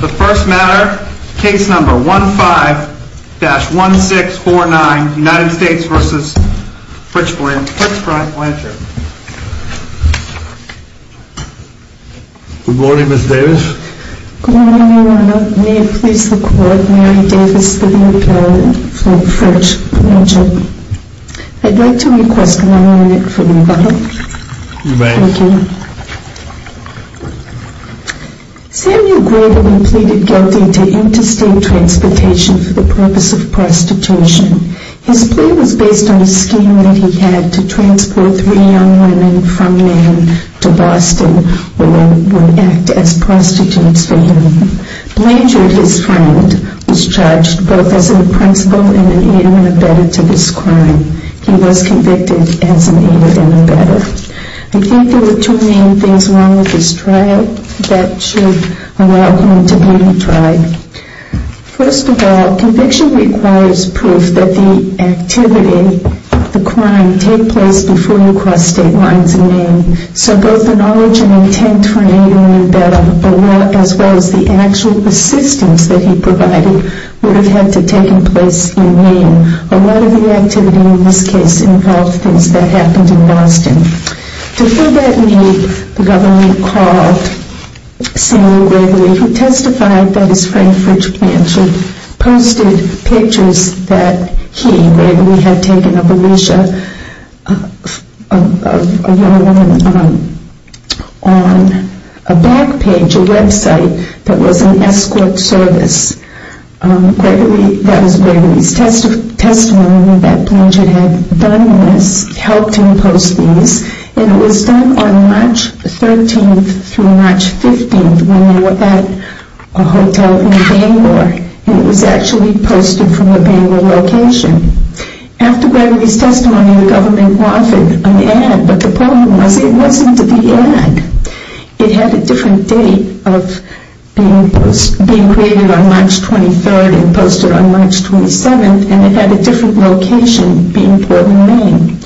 The first matter, case number 15-1649, United States v. Fritz Brian Blanchard Good morning, Ms. Davis Good morning, Your Honor. May it please the Court, Mary Davis v. Blanchard I'd like to request an amendment from you, Your Honor You may Thank you Samuel Grebelin pleaded guilty to interstate transportation for the purpose of prostitution. His plea was based on a scheme that he had to transport three young women from Maine to Boston, where they would act as prostitutes for him. Blanchard, his friend, was charged both as an in-principal and an aide and abettor to this crime. He was convicted as an aide and abettor. I think there were two main things wrong with this trial that should allow him to be retried. First of all, conviction requires proof that the activity, the crime, took place before he crossed state lines in Maine. So both the knowledge and intent for an aide and abettor, as well as the actual assistance that he provided, would have had to have taken place in Maine. A lot of the activity in this case involved things that happened in Boston. To fill that need, the government called Samuel Grebelin, who testified that his friend, Fritz Blanchard, posted pictures that he, Grebelin, had taken of Alicia, a young woman, on a back page, a website, that was an escort service. That was Grebelin's testimony that Blanchard had done this, helped him post these, and it was done on March 13th through March 15th when they were at a hotel in Bangor, and it was actually posted from a Bangor location. After Grebelin's testimony, the government wanted an ad, but the problem was it wasn't the ad. It had a different date of being created on March 23rd and posted on March 27th, and it had a different location, being Portland, Maine.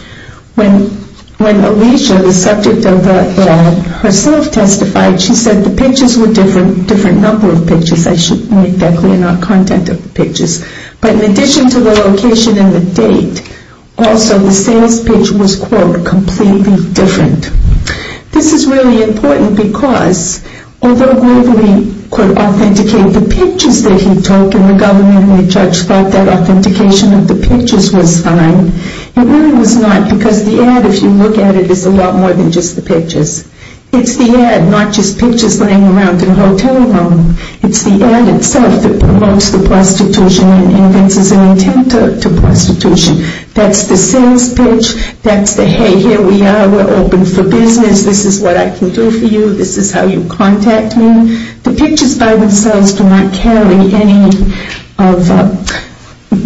When Alicia, the subject of the ad, herself testified, she said the pictures were a different number of pictures. I should make that clear, not content of the pictures. But in addition to the location and the date, also the sales pitch was, quote, completely different. This is really important because although Grebelin could authenticate the pictures that he took, and the government and the judge thought that authentication of the pictures was fine, it really was not because the ad, if you look at it, is a lot more than just the pictures. It's the ad, not just pictures laying around in a hotel room. It's the ad, itself, that promotes the prostitution and invents an intent to prostitution. That's the sales pitch. That's the, hey, here we are. We're open for business. This is what I can do for you. This is how you contact me. The pictures, by themselves, do not carry any of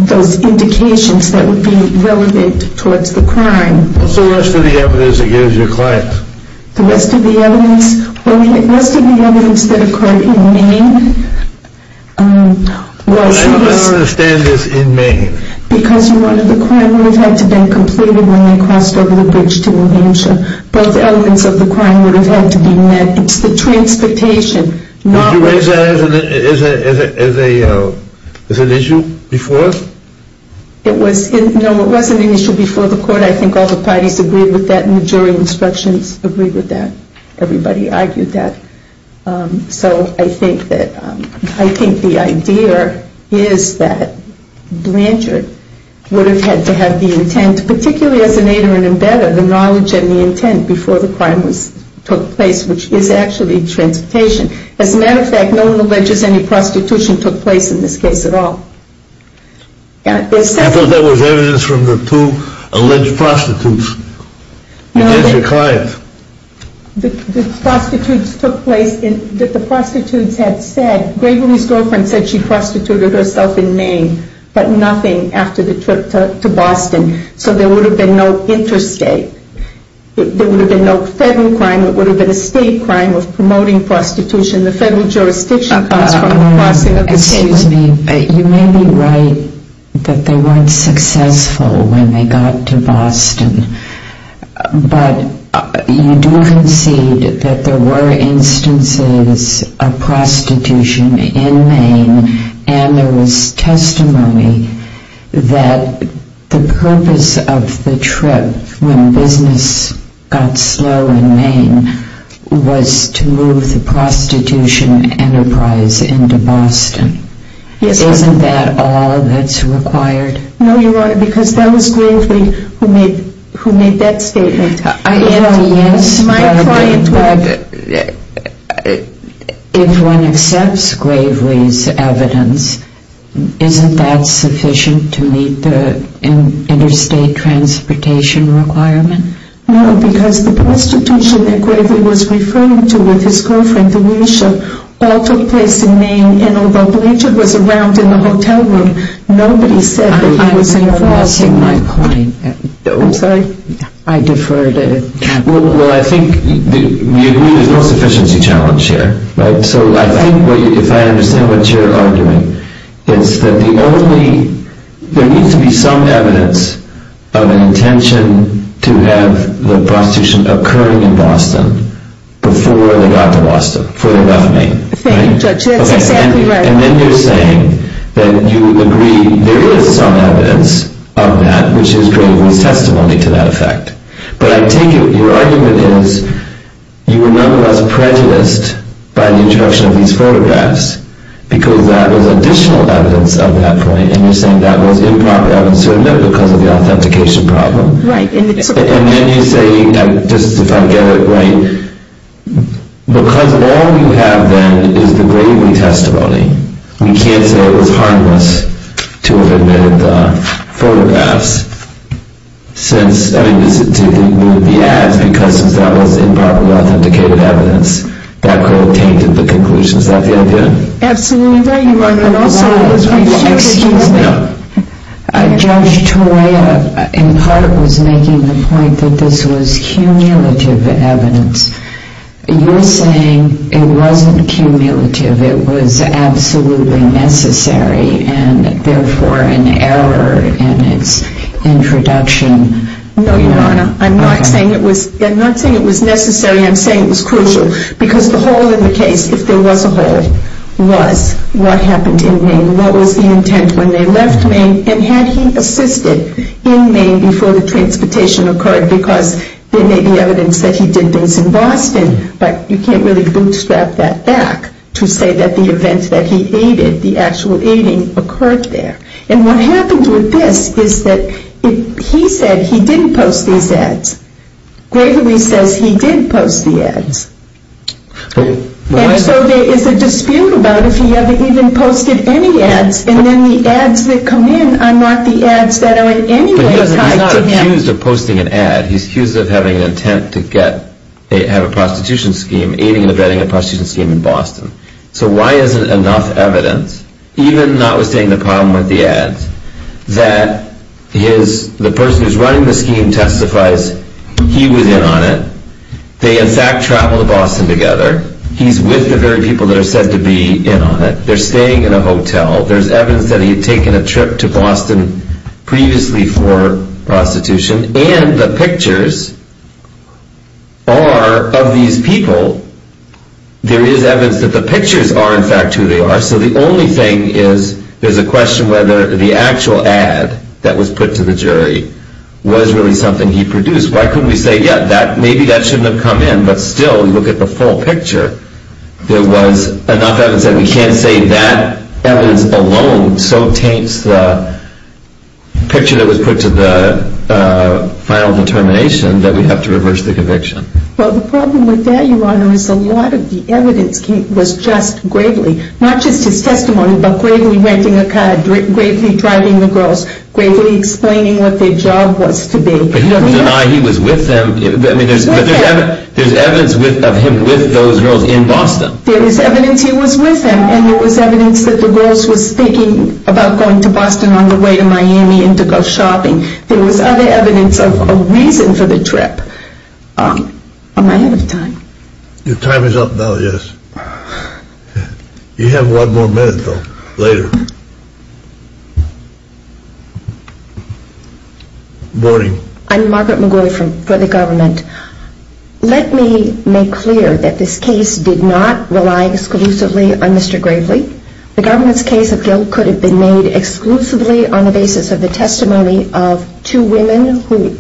those indications that would be relevant towards the crime. What's the rest of the evidence that you gave your clients? The rest of the evidence? Well, the rest of the evidence that occurred in Maine was this. I don't understand this, in Maine. Because you wanted, the crime would have had to have been completed when they crossed over the bridge to New Hampshire. Both elements of the crime would have had to be met. It's the transportation. Did you raise that as an issue before? No, it wasn't an issue before the court. I think all the parties agreed with that and the jury instructions agreed with that. Everybody argued that. So I think that, I think the idea is that Blanchard would have had to have the intent, particularly as an aid or an embedder, the knowledge and the intent before the crime took place, which is actually transportation. As a matter of fact, no one alleges any prostitution took place in this case at all. I thought that was evidence from the two alleged prostitutes. What about your clients? The prostitutes took place, the prostitutes had said, Gregory's girlfriend said she prostituted herself in Maine, but nothing after the trip to Boston. So there would have been no interstate, there would have been no federal crime, it would have been a state crime of promoting prostitution. Excuse me, you may be right that they weren't successful when they got to Boston, but you do concede that there were instances of prostitution in Maine, and there was testimony that the purpose of the trip when business got slow in Maine was to move the prostitution enterprise into Boston. Isn't that all that's required? No, Your Honor, because that was Gravely who made that statement. If one accepts Gravely's evidence, isn't that sufficient to meet the interstate transportation requirement? No, because the prostitution that Gravely was referring to with his girlfriend, Alicia, all took place in Maine, and although Blanchard was around in the hotel room, nobody said that he was in Boston. Well, I think there's no sufficiency challenge here. So I think if I understand what you're arguing, it's that there needs to be some evidence of an intention to have the prostitution occurring in Boston before they got to Boston, before they left Maine. Thank you, Judge, that's exactly right. And then you're saying that you agree there is some evidence of that, which is Gravely's testimony to that effect. But I take it your argument is you were nonetheless prejudiced by the introduction of these photographs, because that was additional evidence of that point, and you're saying that was improper evidence to admit because of the authentication problem. Right. And then you say, just if I get it right, because all we have then is the Gravely testimony, we can't say it was harmless to have admitted the photographs. Since, I mean, do you think we would be asked, because that was improperly authenticated evidence, that could have tainted the conclusion? Is that the idea? Absolutely right. Excuse me. Judge Toya, in part, was making the point that this was cumulative evidence. You're saying it wasn't cumulative, it was absolutely necessary, and therefore an error in its introduction. No, Your Honor, I'm not saying it was necessary, I'm saying it was crucial. Because the hole in the case, if there was a hole, was what happened in Maine, what was the intent when they left Maine, and had he assisted in Maine before the transportation occurred? Because there may be evidence that he did things in Boston, but you can't really bootstrap that back to say that the event that he aided, the actual aiding, occurred there. And what happened with this is that he said he didn't post these ads. Gravely says he did post the ads. And so there is a dispute about if he ever even posted any ads, and then the ads that come in are not the ads that are in any way tied to him. But he's not accused of posting an ad, he's accused of having an intent to have a prostitution scheme, aiding and abetting a prostitution scheme in Boston. So why isn't enough evidence, even notwithstanding the problem with the ads, that the person who's running the scheme testifies he was in on it, they in fact travel to Boston together, he's with the very people that are said to be in on it, they're staying in a hotel, there's evidence that he had taken a trip to Boston previously for prostitution, and the pictures are of these people, there is evidence that the pictures are in fact who they are. So the only thing is there's a question whether the actual ad that was put to the jury was really something he produced. Why couldn't we say, yeah, maybe that shouldn't have come in, but still look at the full picture. There was enough evidence that we can't say that evidence alone so taints the picture that was put to the final determination that we have to reverse the conviction. Well, the problem with that, Your Honor, is a lot of the evidence was just gravely, not just his testimony, but gravely renting a car, gravely driving the girls, gravely explaining what their job was to be. But he doesn't deny he was with them, but there's evidence of him with those girls in Boston. There was evidence he was with them, and there was evidence that the girls were thinking about going to Boston on the way to Miami and to go shopping. There was other evidence of a reason for the trip. Am I out of time? Your time is up now, yes. You have one more minute, though, later. Morning. I'm Margaret McGoy for the government. Let me make clear that this case did not rely exclusively on Mr. Gravely. The government's case of guilt could have been made exclusively on the basis of the testimony of two women who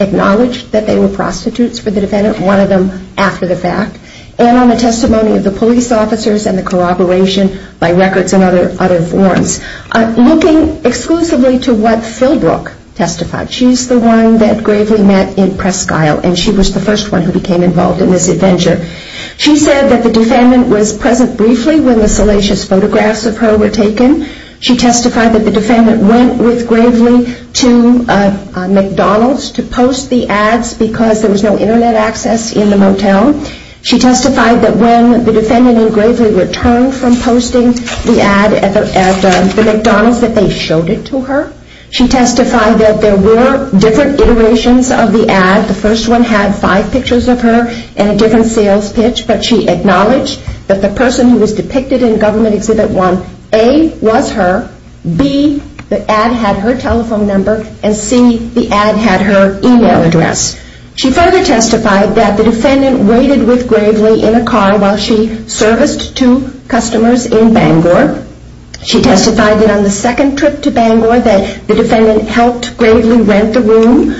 acknowledged that they were prostitutes for the defendant, one of them after the fact, and on the testimony of the police officers and the corroboration by records and other forms. Looking exclusively to what Philbrook testified, she's the one that Gravely met in Presque Isle, and she was the first one who became involved in this adventure. She said that the defendant was present briefly when the salacious photographs of her were taken. She testified that the defendant went with Gravely to McDonald's to post the ads because there was no Internet access in the motel. She testified that when the defendant and Gravely returned from posting the ad at the McDonald's that they showed it to her. She testified that there were different iterations of the ad. The first one had five pictures of her and a different sales pitch, but she acknowledged that the person who was depicted in Government Exhibit 1, A, was her, B, the ad had her telephone number, and C, the ad had her email address. She further testified that the defendant waited with Gravely in a car while she serviced two customers in Bangor. She testified that on the second trip to Bangor that the defendant helped Gravely rent the room.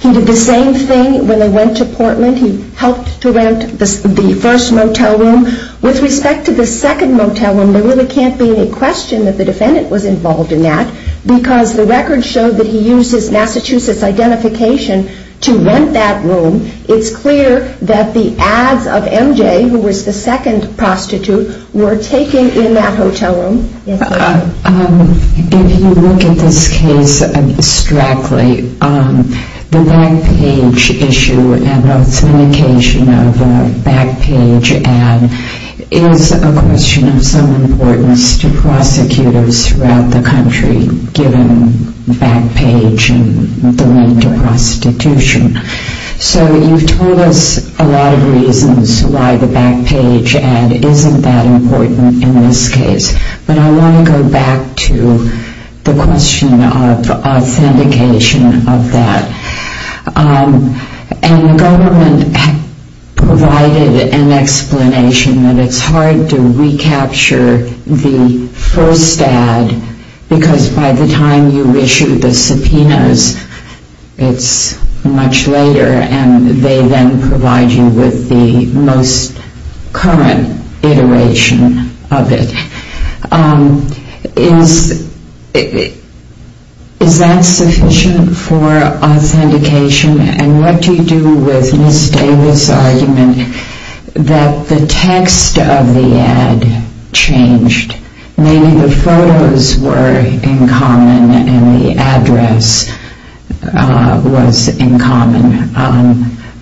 He did the same thing when they went to Portland. He helped to rent the first motel room. With respect to the second motel room, there really can't be any question that the defendant was involved in that because the records show that he used his Massachusetts identification to rent that room. It's clear that the ads of MJ, who was the second prostitute, were taken in that hotel room. If you look at this case abstractly, the back page issue and authentication of a back page ad is a question of some importance to prosecutors throughout the country, given back page and the link to prostitution. So you've told us a lot of reasons why the back page ad isn't that important in this case, but I want to go back to the question of authentication of that. And the government provided an explanation that it's hard to recapture the first ad because by the time you issue the subpoenas, it's much later, and they then provide you with the most current iteration of it. Is that sufficient for authentication? And what do you do with Ms. Davis' argument that the text of the ad changed? Maybe the photos were in common and the address was in common,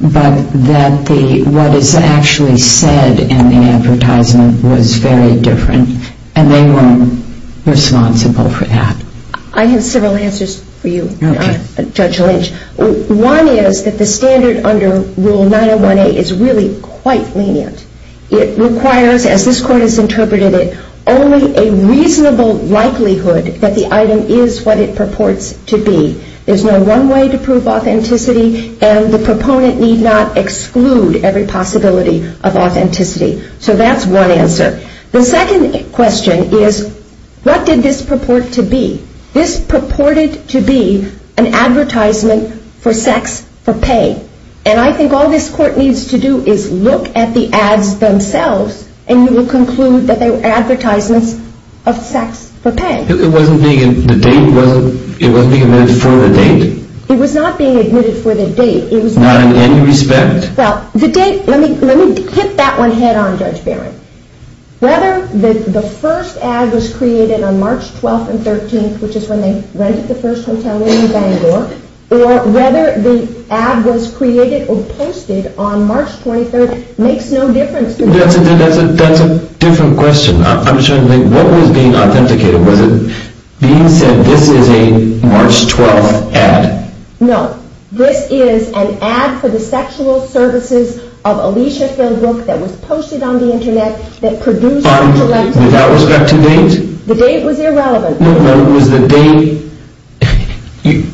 but that what is actually said in the advertisement was very different, and they were responsible for that. I have several answers for you, Judge Lynch. One is that the standard under Rule 901A is really quite lenient. It requires, as this Court has interpreted it, only a reasonable likelihood that the item is what it purports to be. There's no one way to prove authenticity, and the proponent need not exclude every possibility of authenticity. So that's one answer. The second question is, what did this purport to be? This purported to be an advertisement for sex, for pay. And I think all this Court needs to do is look at the ads themselves, and you will conclude that they were advertisements of sex for pay. It wasn't being admitted for the date? It was not being admitted for the date. Not in any respect? Well, the date, let me hit that one head on, Judge Barron. Whether the first ad was created on March 12th and 13th, which is when they rented the first hotel room in Bangor, or whether the ad was created or posted on March 23rd makes no difference to me. That's a different question. I'm just trying to think, what was being authenticated? Was it being said, this is a March 12th ad? No. This is an ad for the sexual services of Alicia Philbrook that was posted on the Internet, that produced on the website. Without respect to date? The date was irrelevant. No, no, it was the date.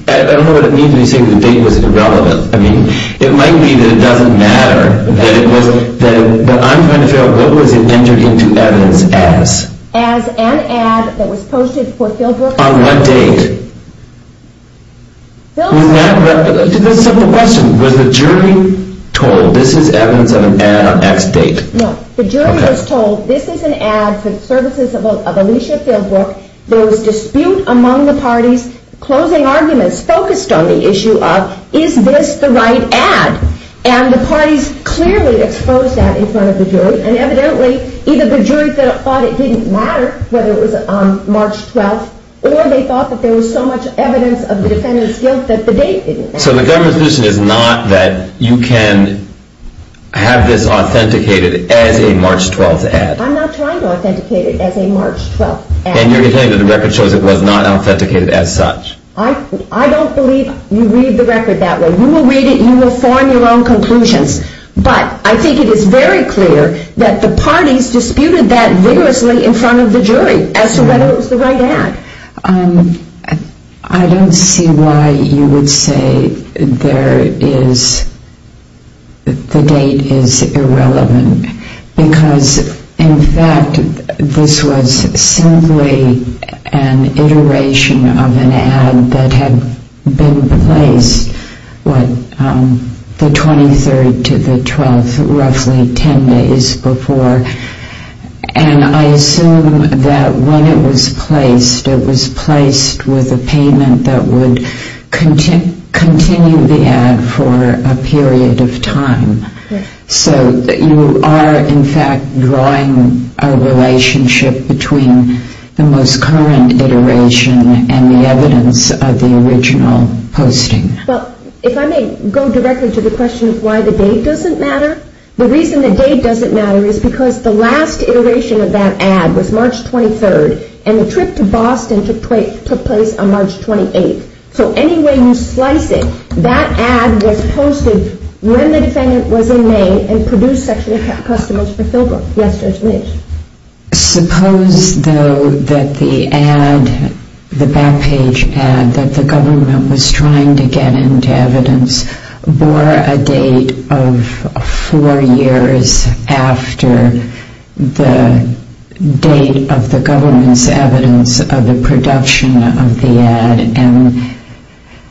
I don't know what it means when you say the date was irrelevant. I mean, it might be that it doesn't matter, but I'm trying to figure out what was entered into evidence as. As an ad that was posted for Philbrook. On what date? That's a simple question. Was the jury told, this is evidence of an ad on X date? No, the jury was told, this is an ad for the services of Alicia Philbrook. There was dispute among the parties. Closing arguments focused on the issue of, is this the right ad? And the parties clearly exposed that in front of the jury, and evidently either the jury thought it didn't matter whether it was on March 12th, or they thought that there was so much evidence of the defendant's guilt that the date didn't matter. So the government's position is not that you can have this authenticated as a March 12th ad? I'm not trying to authenticate it as a March 12th ad. And you're saying that the record shows it was not authenticated as such? I don't believe you read the record that way. You will read it and you will form your own conclusions, but I think it is very clear that the parties disputed that vigorously in front of the jury as to whether it was the right ad. I don't see why you would say the date is irrelevant. Because, in fact, this was simply an iteration of an ad that had been placed, what, the 23rd to the 12th, roughly 10 days before. And I assume that when it was placed, it was placed with a payment that would continue the ad for a period of time. So you are, in fact, drawing a relationship between the most current iteration and the evidence of the original posting. Well, if I may go directly to the question of why the date doesn't matter, the reason the date doesn't matter is because the last iteration of that ad was March 23rd and the trip to Boston took place on March 28th. So any way you slice it, that ad was posted when the defendant was in Maine and produced Section of Customs for Philbrook. Yes, Judge Lynch? Suppose, though, that the ad, the back page ad that the government was trying to get into evidence bore a date of four years after the date of the government's evidence of the production of the ad and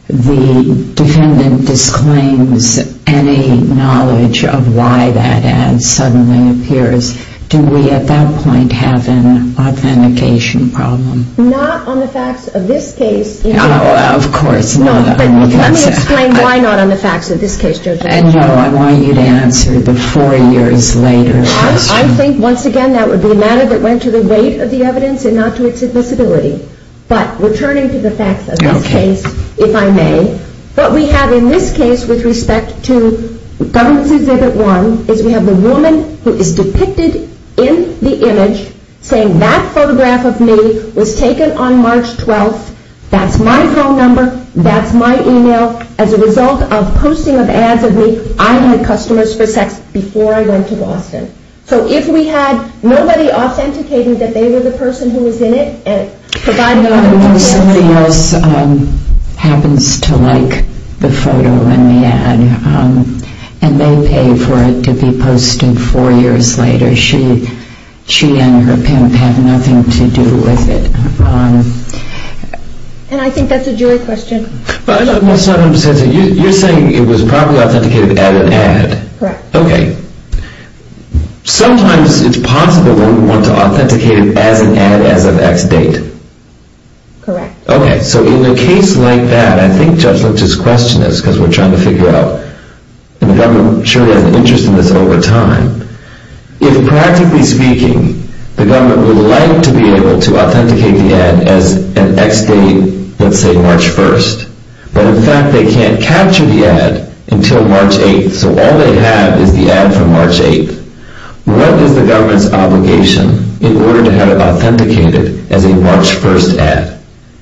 the defendant disclaims any knowledge of why that ad suddenly appears. Do we, at that point, have an authentication problem? Not on the facts of this case. Oh, of course not. Let me explain why not on the facts of this case, Judge Lynch. No, I want you to answer the four years later question. I think, once again, that would be a matter that went to the weight of the evidence and not to its invisibility. But returning to the facts of this case, if I may, what we have in this case with respect to government's Exhibit 1 is we have the woman who is depicted in the image saying, That photograph of me was taken on March 12th. That's my phone number. That's my e-mail. As a result of posting of ads of me, I had customers for sex before I went to Boston. So if we had nobody authenticating that they were the person who was in it and providing the information... Somebody else happens to like the photo in the ad and they pay for it to be posted four years later. She and her pimp have nothing to do with it. And I think that's a jury question. You're saying it was probably authenticated as an ad. Correct. Okay. Sometimes it's possible that we want to authenticate it as an ad as of X date. Correct. Okay. So in a case like that, I think Judge Lynch's question is, because we're trying to figure out, and the government surely has an interest in this over time, if practically speaking, the government would like to be able to authenticate the ad as an X date, let's say March 1st, but in fact they can't capture the ad until March 8th, so all they have is the ad from March 8th, what is the government's obligation in order to have it authenticated as a March 1st ad?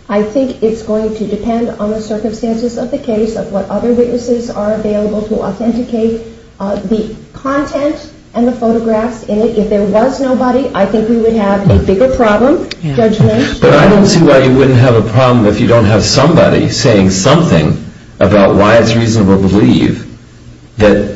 I think it's going to depend on the circumstances of the case, of what other witnesses are available to authenticate the content and the photographs in it. If there was nobody, I think we would have a bigger problem, Judge Lynch. But I don't see why you wouldn't have a problem if you don't have somebody saying something about why it's reasonable to believe that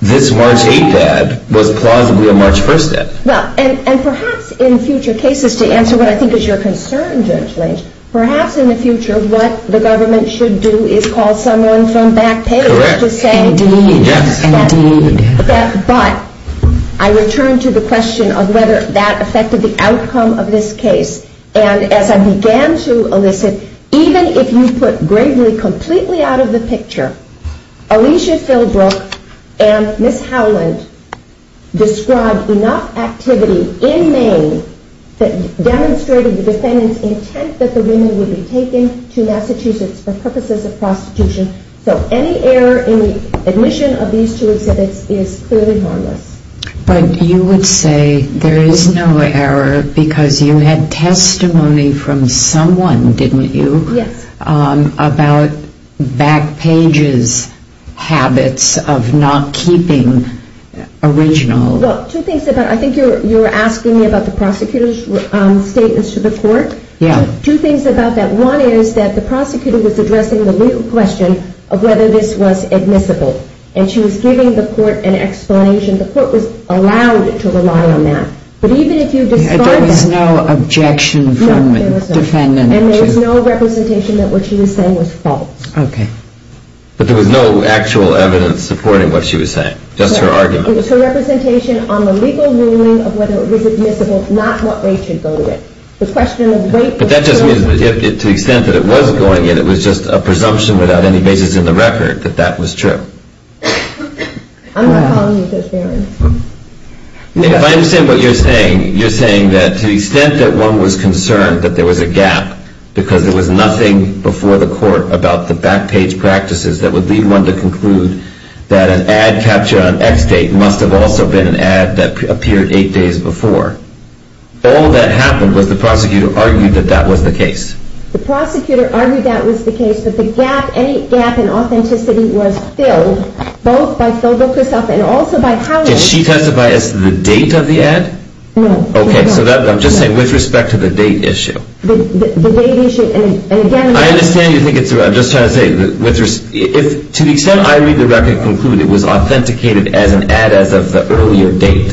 this March 8th ad was plausibly a March 1st ad. Well, and perhaps in future cases, to answer what I think is your concern, Judge Lynch, perhaps in the future what the government should do is call someone from back page to say... Correct. Indeed. Yes, indeed. But I return to the question of whether that affected the outcome of this case, and as I began to elicit, even if you put Gravely completely out of the picture, Alicia Philbrook and Miss Howland described enough activity in Maine that demonstrated the defendant's intent that the women would be taken to Massachusetts for purposes of prostitution. So any error in the admission of these two exhibits is clearly harmless. But you would say there is no error because you had testimony from someone, didn't you? Yes. About back page's habits of not keeping original... Well, two things about... I think you were asking me about the prosecutor's statements to the court. Yeah. Two things about that. One is that the prosecutor was addressing the legal question of whether this was admissible, and she was giving the court an explanation. The court was allowed to rely on that. But even if you discard that... There was no objection from the defendant. And there was no representation that what she was saying was false. Okay. But there was no actual evidence supporting what she was saying, just her argument. It was her representation on the legal ruling of whether it was admissible, not what rate should go to it. The question of the rate... But that just means that to the extent that it was going in, it was just a presumption without any basis in the record that that was true. I'm not calling you transparent. If I understand what you're saying, you're saying that to the extent that one was concerned that there was a gap because there was nothing before the court about the back page practices that would lead one to conclude that an ad capture on X date must have also been an ad that appeared eight days before. All that happened was the prosecutor argued that that was the case. The prosecutor argued that was the case, but the gap, any gap in authenticity was filled, both by Philbook herself and also by Howard. Did she testify as to the date of the ad? No. Okay. So I'm just saying with respect to the date issue. The date issue, and again... I understand you think it's... To the extent I read the record and conclude it was authenticated as an ad as of the earlier date,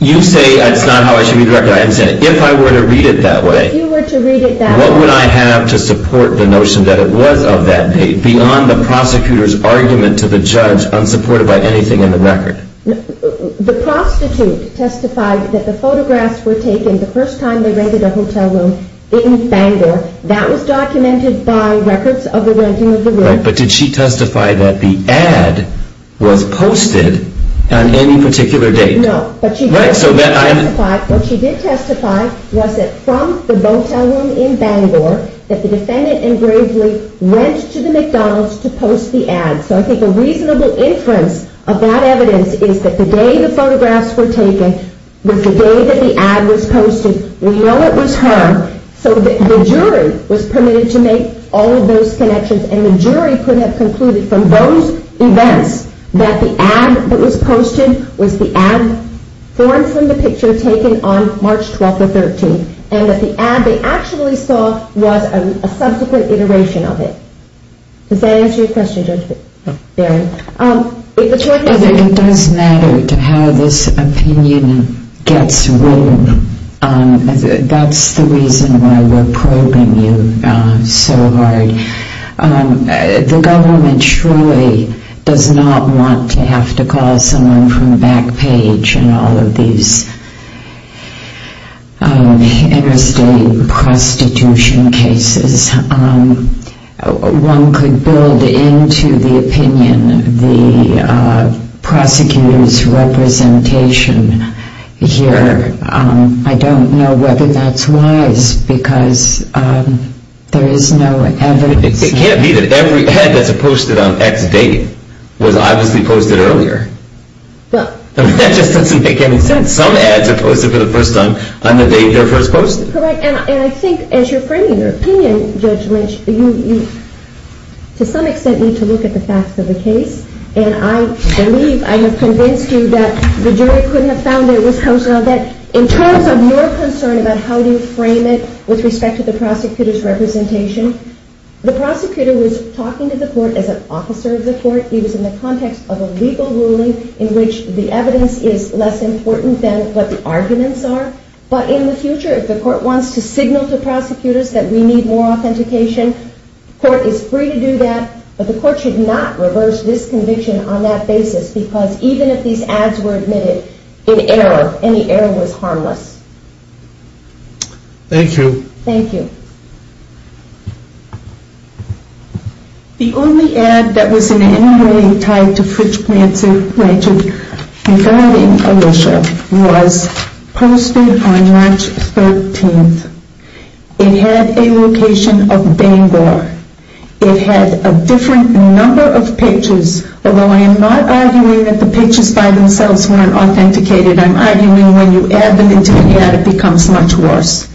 you say that's not how I should read the record. I understand. If I were to read it that way, what would I have to support the notion that it was of that date beyond the prosecutor's argument to the judge unsupported by anything in the record? The prostitute testified that the photographs were taken the first time they rented a hotel room in Bangor. That was documented by records of the renting of the room. Right, but did she testify that the ad was posted on any particular date? No. Right, so then I... What she did testify was that from the hotel room in Bangor that the defendant and Gravely went to the McDonald's to post the ad. So I think a reasonable inference of that evidence is that the day the photographs were taken was the day that the ad was posted. We know it was her. So the jury was permitted to make all of those connections and the jury could have concluded from those events that the ad that was posted was the ad formed from the picture taken on March 12th or 13th and that the ad they actually saw was a subsequent iteration of it. Does that answer your question, Judge Barron? I think it does matter to how this opinion gets read. That's the reason why we're probing you so hard. The government surely does not want to have to call someone from Backpage in all of these interstate prostitution cases. One could build into the opinion the prosecutor's representation here but I don't know whether that's wise because there is no evidence. It can't be that every ad that's posted on X date was obviously posted earlier. That just doesn't make any sense. Some ads are posted for the first time on the date they're first posted. Correct, and I think as you're framing your opinion, Judge Lynch, you to some extent need to look at the facts of the case and I believe I have convinced you that the jury couldn't have found that it was posted on that. In terms of your concern about how you frame it with respect to the prosecutor's representation, the prosecutor was talking to the court as an officer of the court. He was in the context of a legal ruling in which the evidence is less important than what the arguments are. But in the future, if the court wants to signal to prosecutors that we need more authentication, court is free to do that. But the court should not reverse this conviction on that basis because even if these ads were admitted in error, any error was harmless. Thank you. Thank you. The only ad that was in any way tied to Fritz Pranzer regarding Alicia was posted on March 13th. It had a location of Bangor. It had a different number of pages, although I am not arguing that the pages by themselves weren't authenticated. I'm arguing when you add them into an ad it becomes much worse.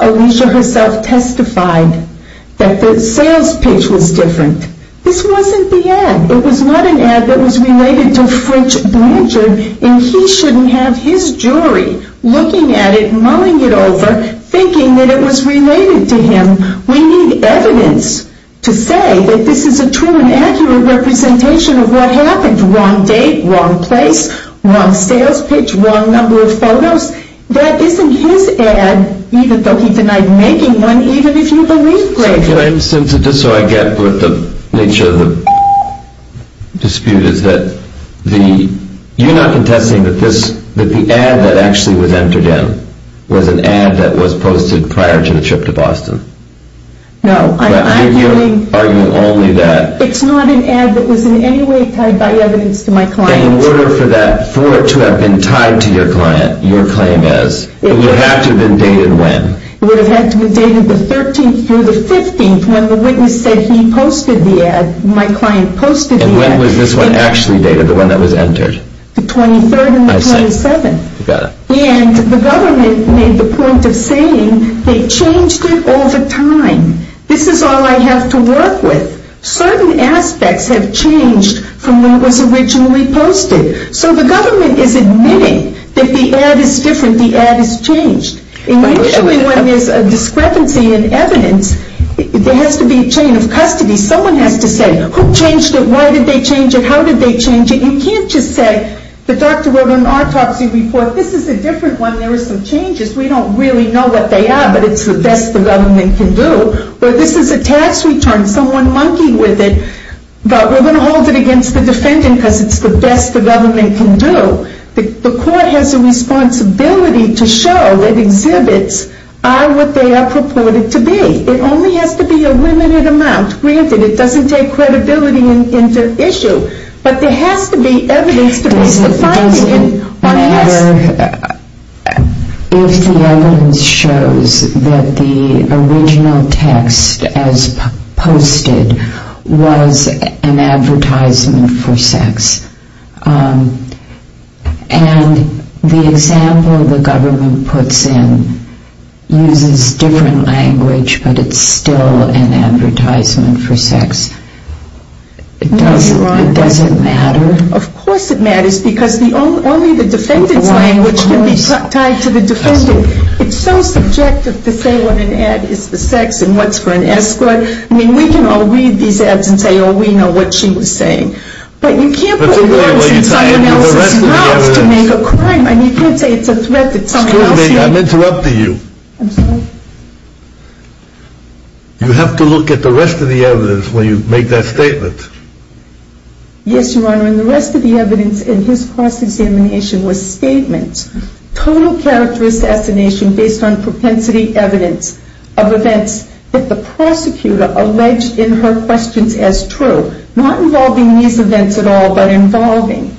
Alicia herself testified that the sales page was different. This wasn't the ad. It was not an ad that was related to Fritz Pranzer and he shouldn't have his jury looking at it, mulling it over, thinking that it was related to him. We need evidence to say that this is a true and accurate representation of what happened. Wrong date, wrong place, wrong sales page, wrong number of photos. That isn't his ad, even though he denied making one, even if you believe Blake. Just so I get with the nature of the dispute is that you're not contesting that the ad that actually was entered in was an ad that was posted prior to the trip to Boston? No. I'm arguing only that it's not an ad that was in any way tied by evidence to my client. In order for that to have been tied to your client, your claim is, it would have to have been dated when? It would have had to have been dated the 13th through the 15th when the witness said he posted the ad, my client posted the ad. And when was this one actually dated, the one that was entered? The 23rd and the 27th. I see. Got it. And the government made the point of saying they changed it all the time. This is all I have to work with. Certain aspects have changed from when it was originally posted. So the government is admitting that the ad is different, the ad is changed. Usually when there's a discrepancy in evidence, there has to be a chain of custody. Someone has to say, who changed it, why did they change it, how did they change it? You can't just say, the doctor wrote an autopsy report, this is a different one, there are some changes. We don't really know what they are, but it's the best the government can do. Or this is a tax return, someone monkeyed with it, but we're going to hold it against the defendant because it's the best the government can do. The court has a responsibility to show that exhibits are what they are purported to be. It only has to be a limited amount. Granted, it doesn't take credibility into issue, but there has to be evidence to base the finding. If the evidence shows that the original text as posted was an advertisement for sex, and the example the government puts in uses different language, but it's still an advertisement for sex, does it matter? Of course it matters, because only the defendant's language can be tied to the defendant. It's so subjective to say what an ad is for sex and what's for an escort. I mean, we can all read these ads and say, oh, we know what she was saying. But you can't put words in someone else's mouth to make a crime, and you can't say it's a threat that someone else made. Excuse me, I'm interrupting you. I'm sorry. You have to look at the rest of the evidence when you make that statement. Yes, Your Honor. And the rest of the evidence in his cross-examination was statements, total character assassination based on propensity evidence of events that the prosecutor alleged in her questions as true, not involving these events at all, but involving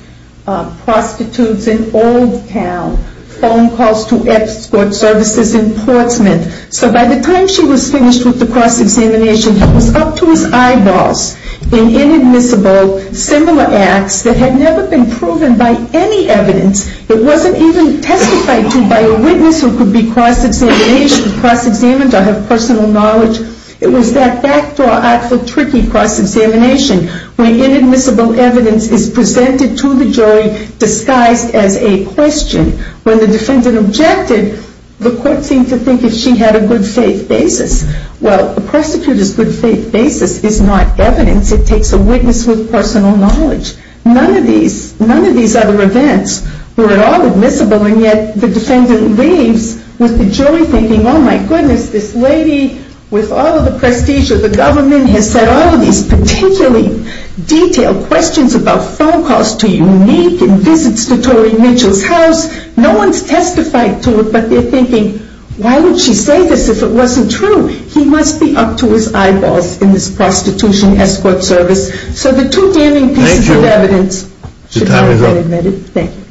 prostitutes in Old Town, phone calls to escort services in Portsmouth. So by the time she was finished with the cross-examination, it was up to his eyeballs in inadmissible similar acts that had never been proven by any evidence. It wasn't even testified to by a witness who could be cross-examined or have personal knowledge. It was that backdoor, actual tricky cross-examination where inadmissible evidence is presented to the jury disguised as a question. When the defendant objected, the court seemed to think that she had a good faith basis. Well, a prosecutor's good faith basis is not evidence. It takes a witness with personal knowledge. None of these other events were at all admissible, and yet the defendant leaves with the jury thinking, oh, my goodness, this lady with all of the prestige of the government has said all of these particularly detailed questions about phone calls to Unique and visits to Tori Mitchell's house. No one's testified to it, but they're thinking, why would she say this if it wasn't true? He must be up to his eyeballs in this prostitution escort service. So the two damning pieces of evidence should not have been admitted. Thank you. Your time is up. Thank you. Thanks, Kaye.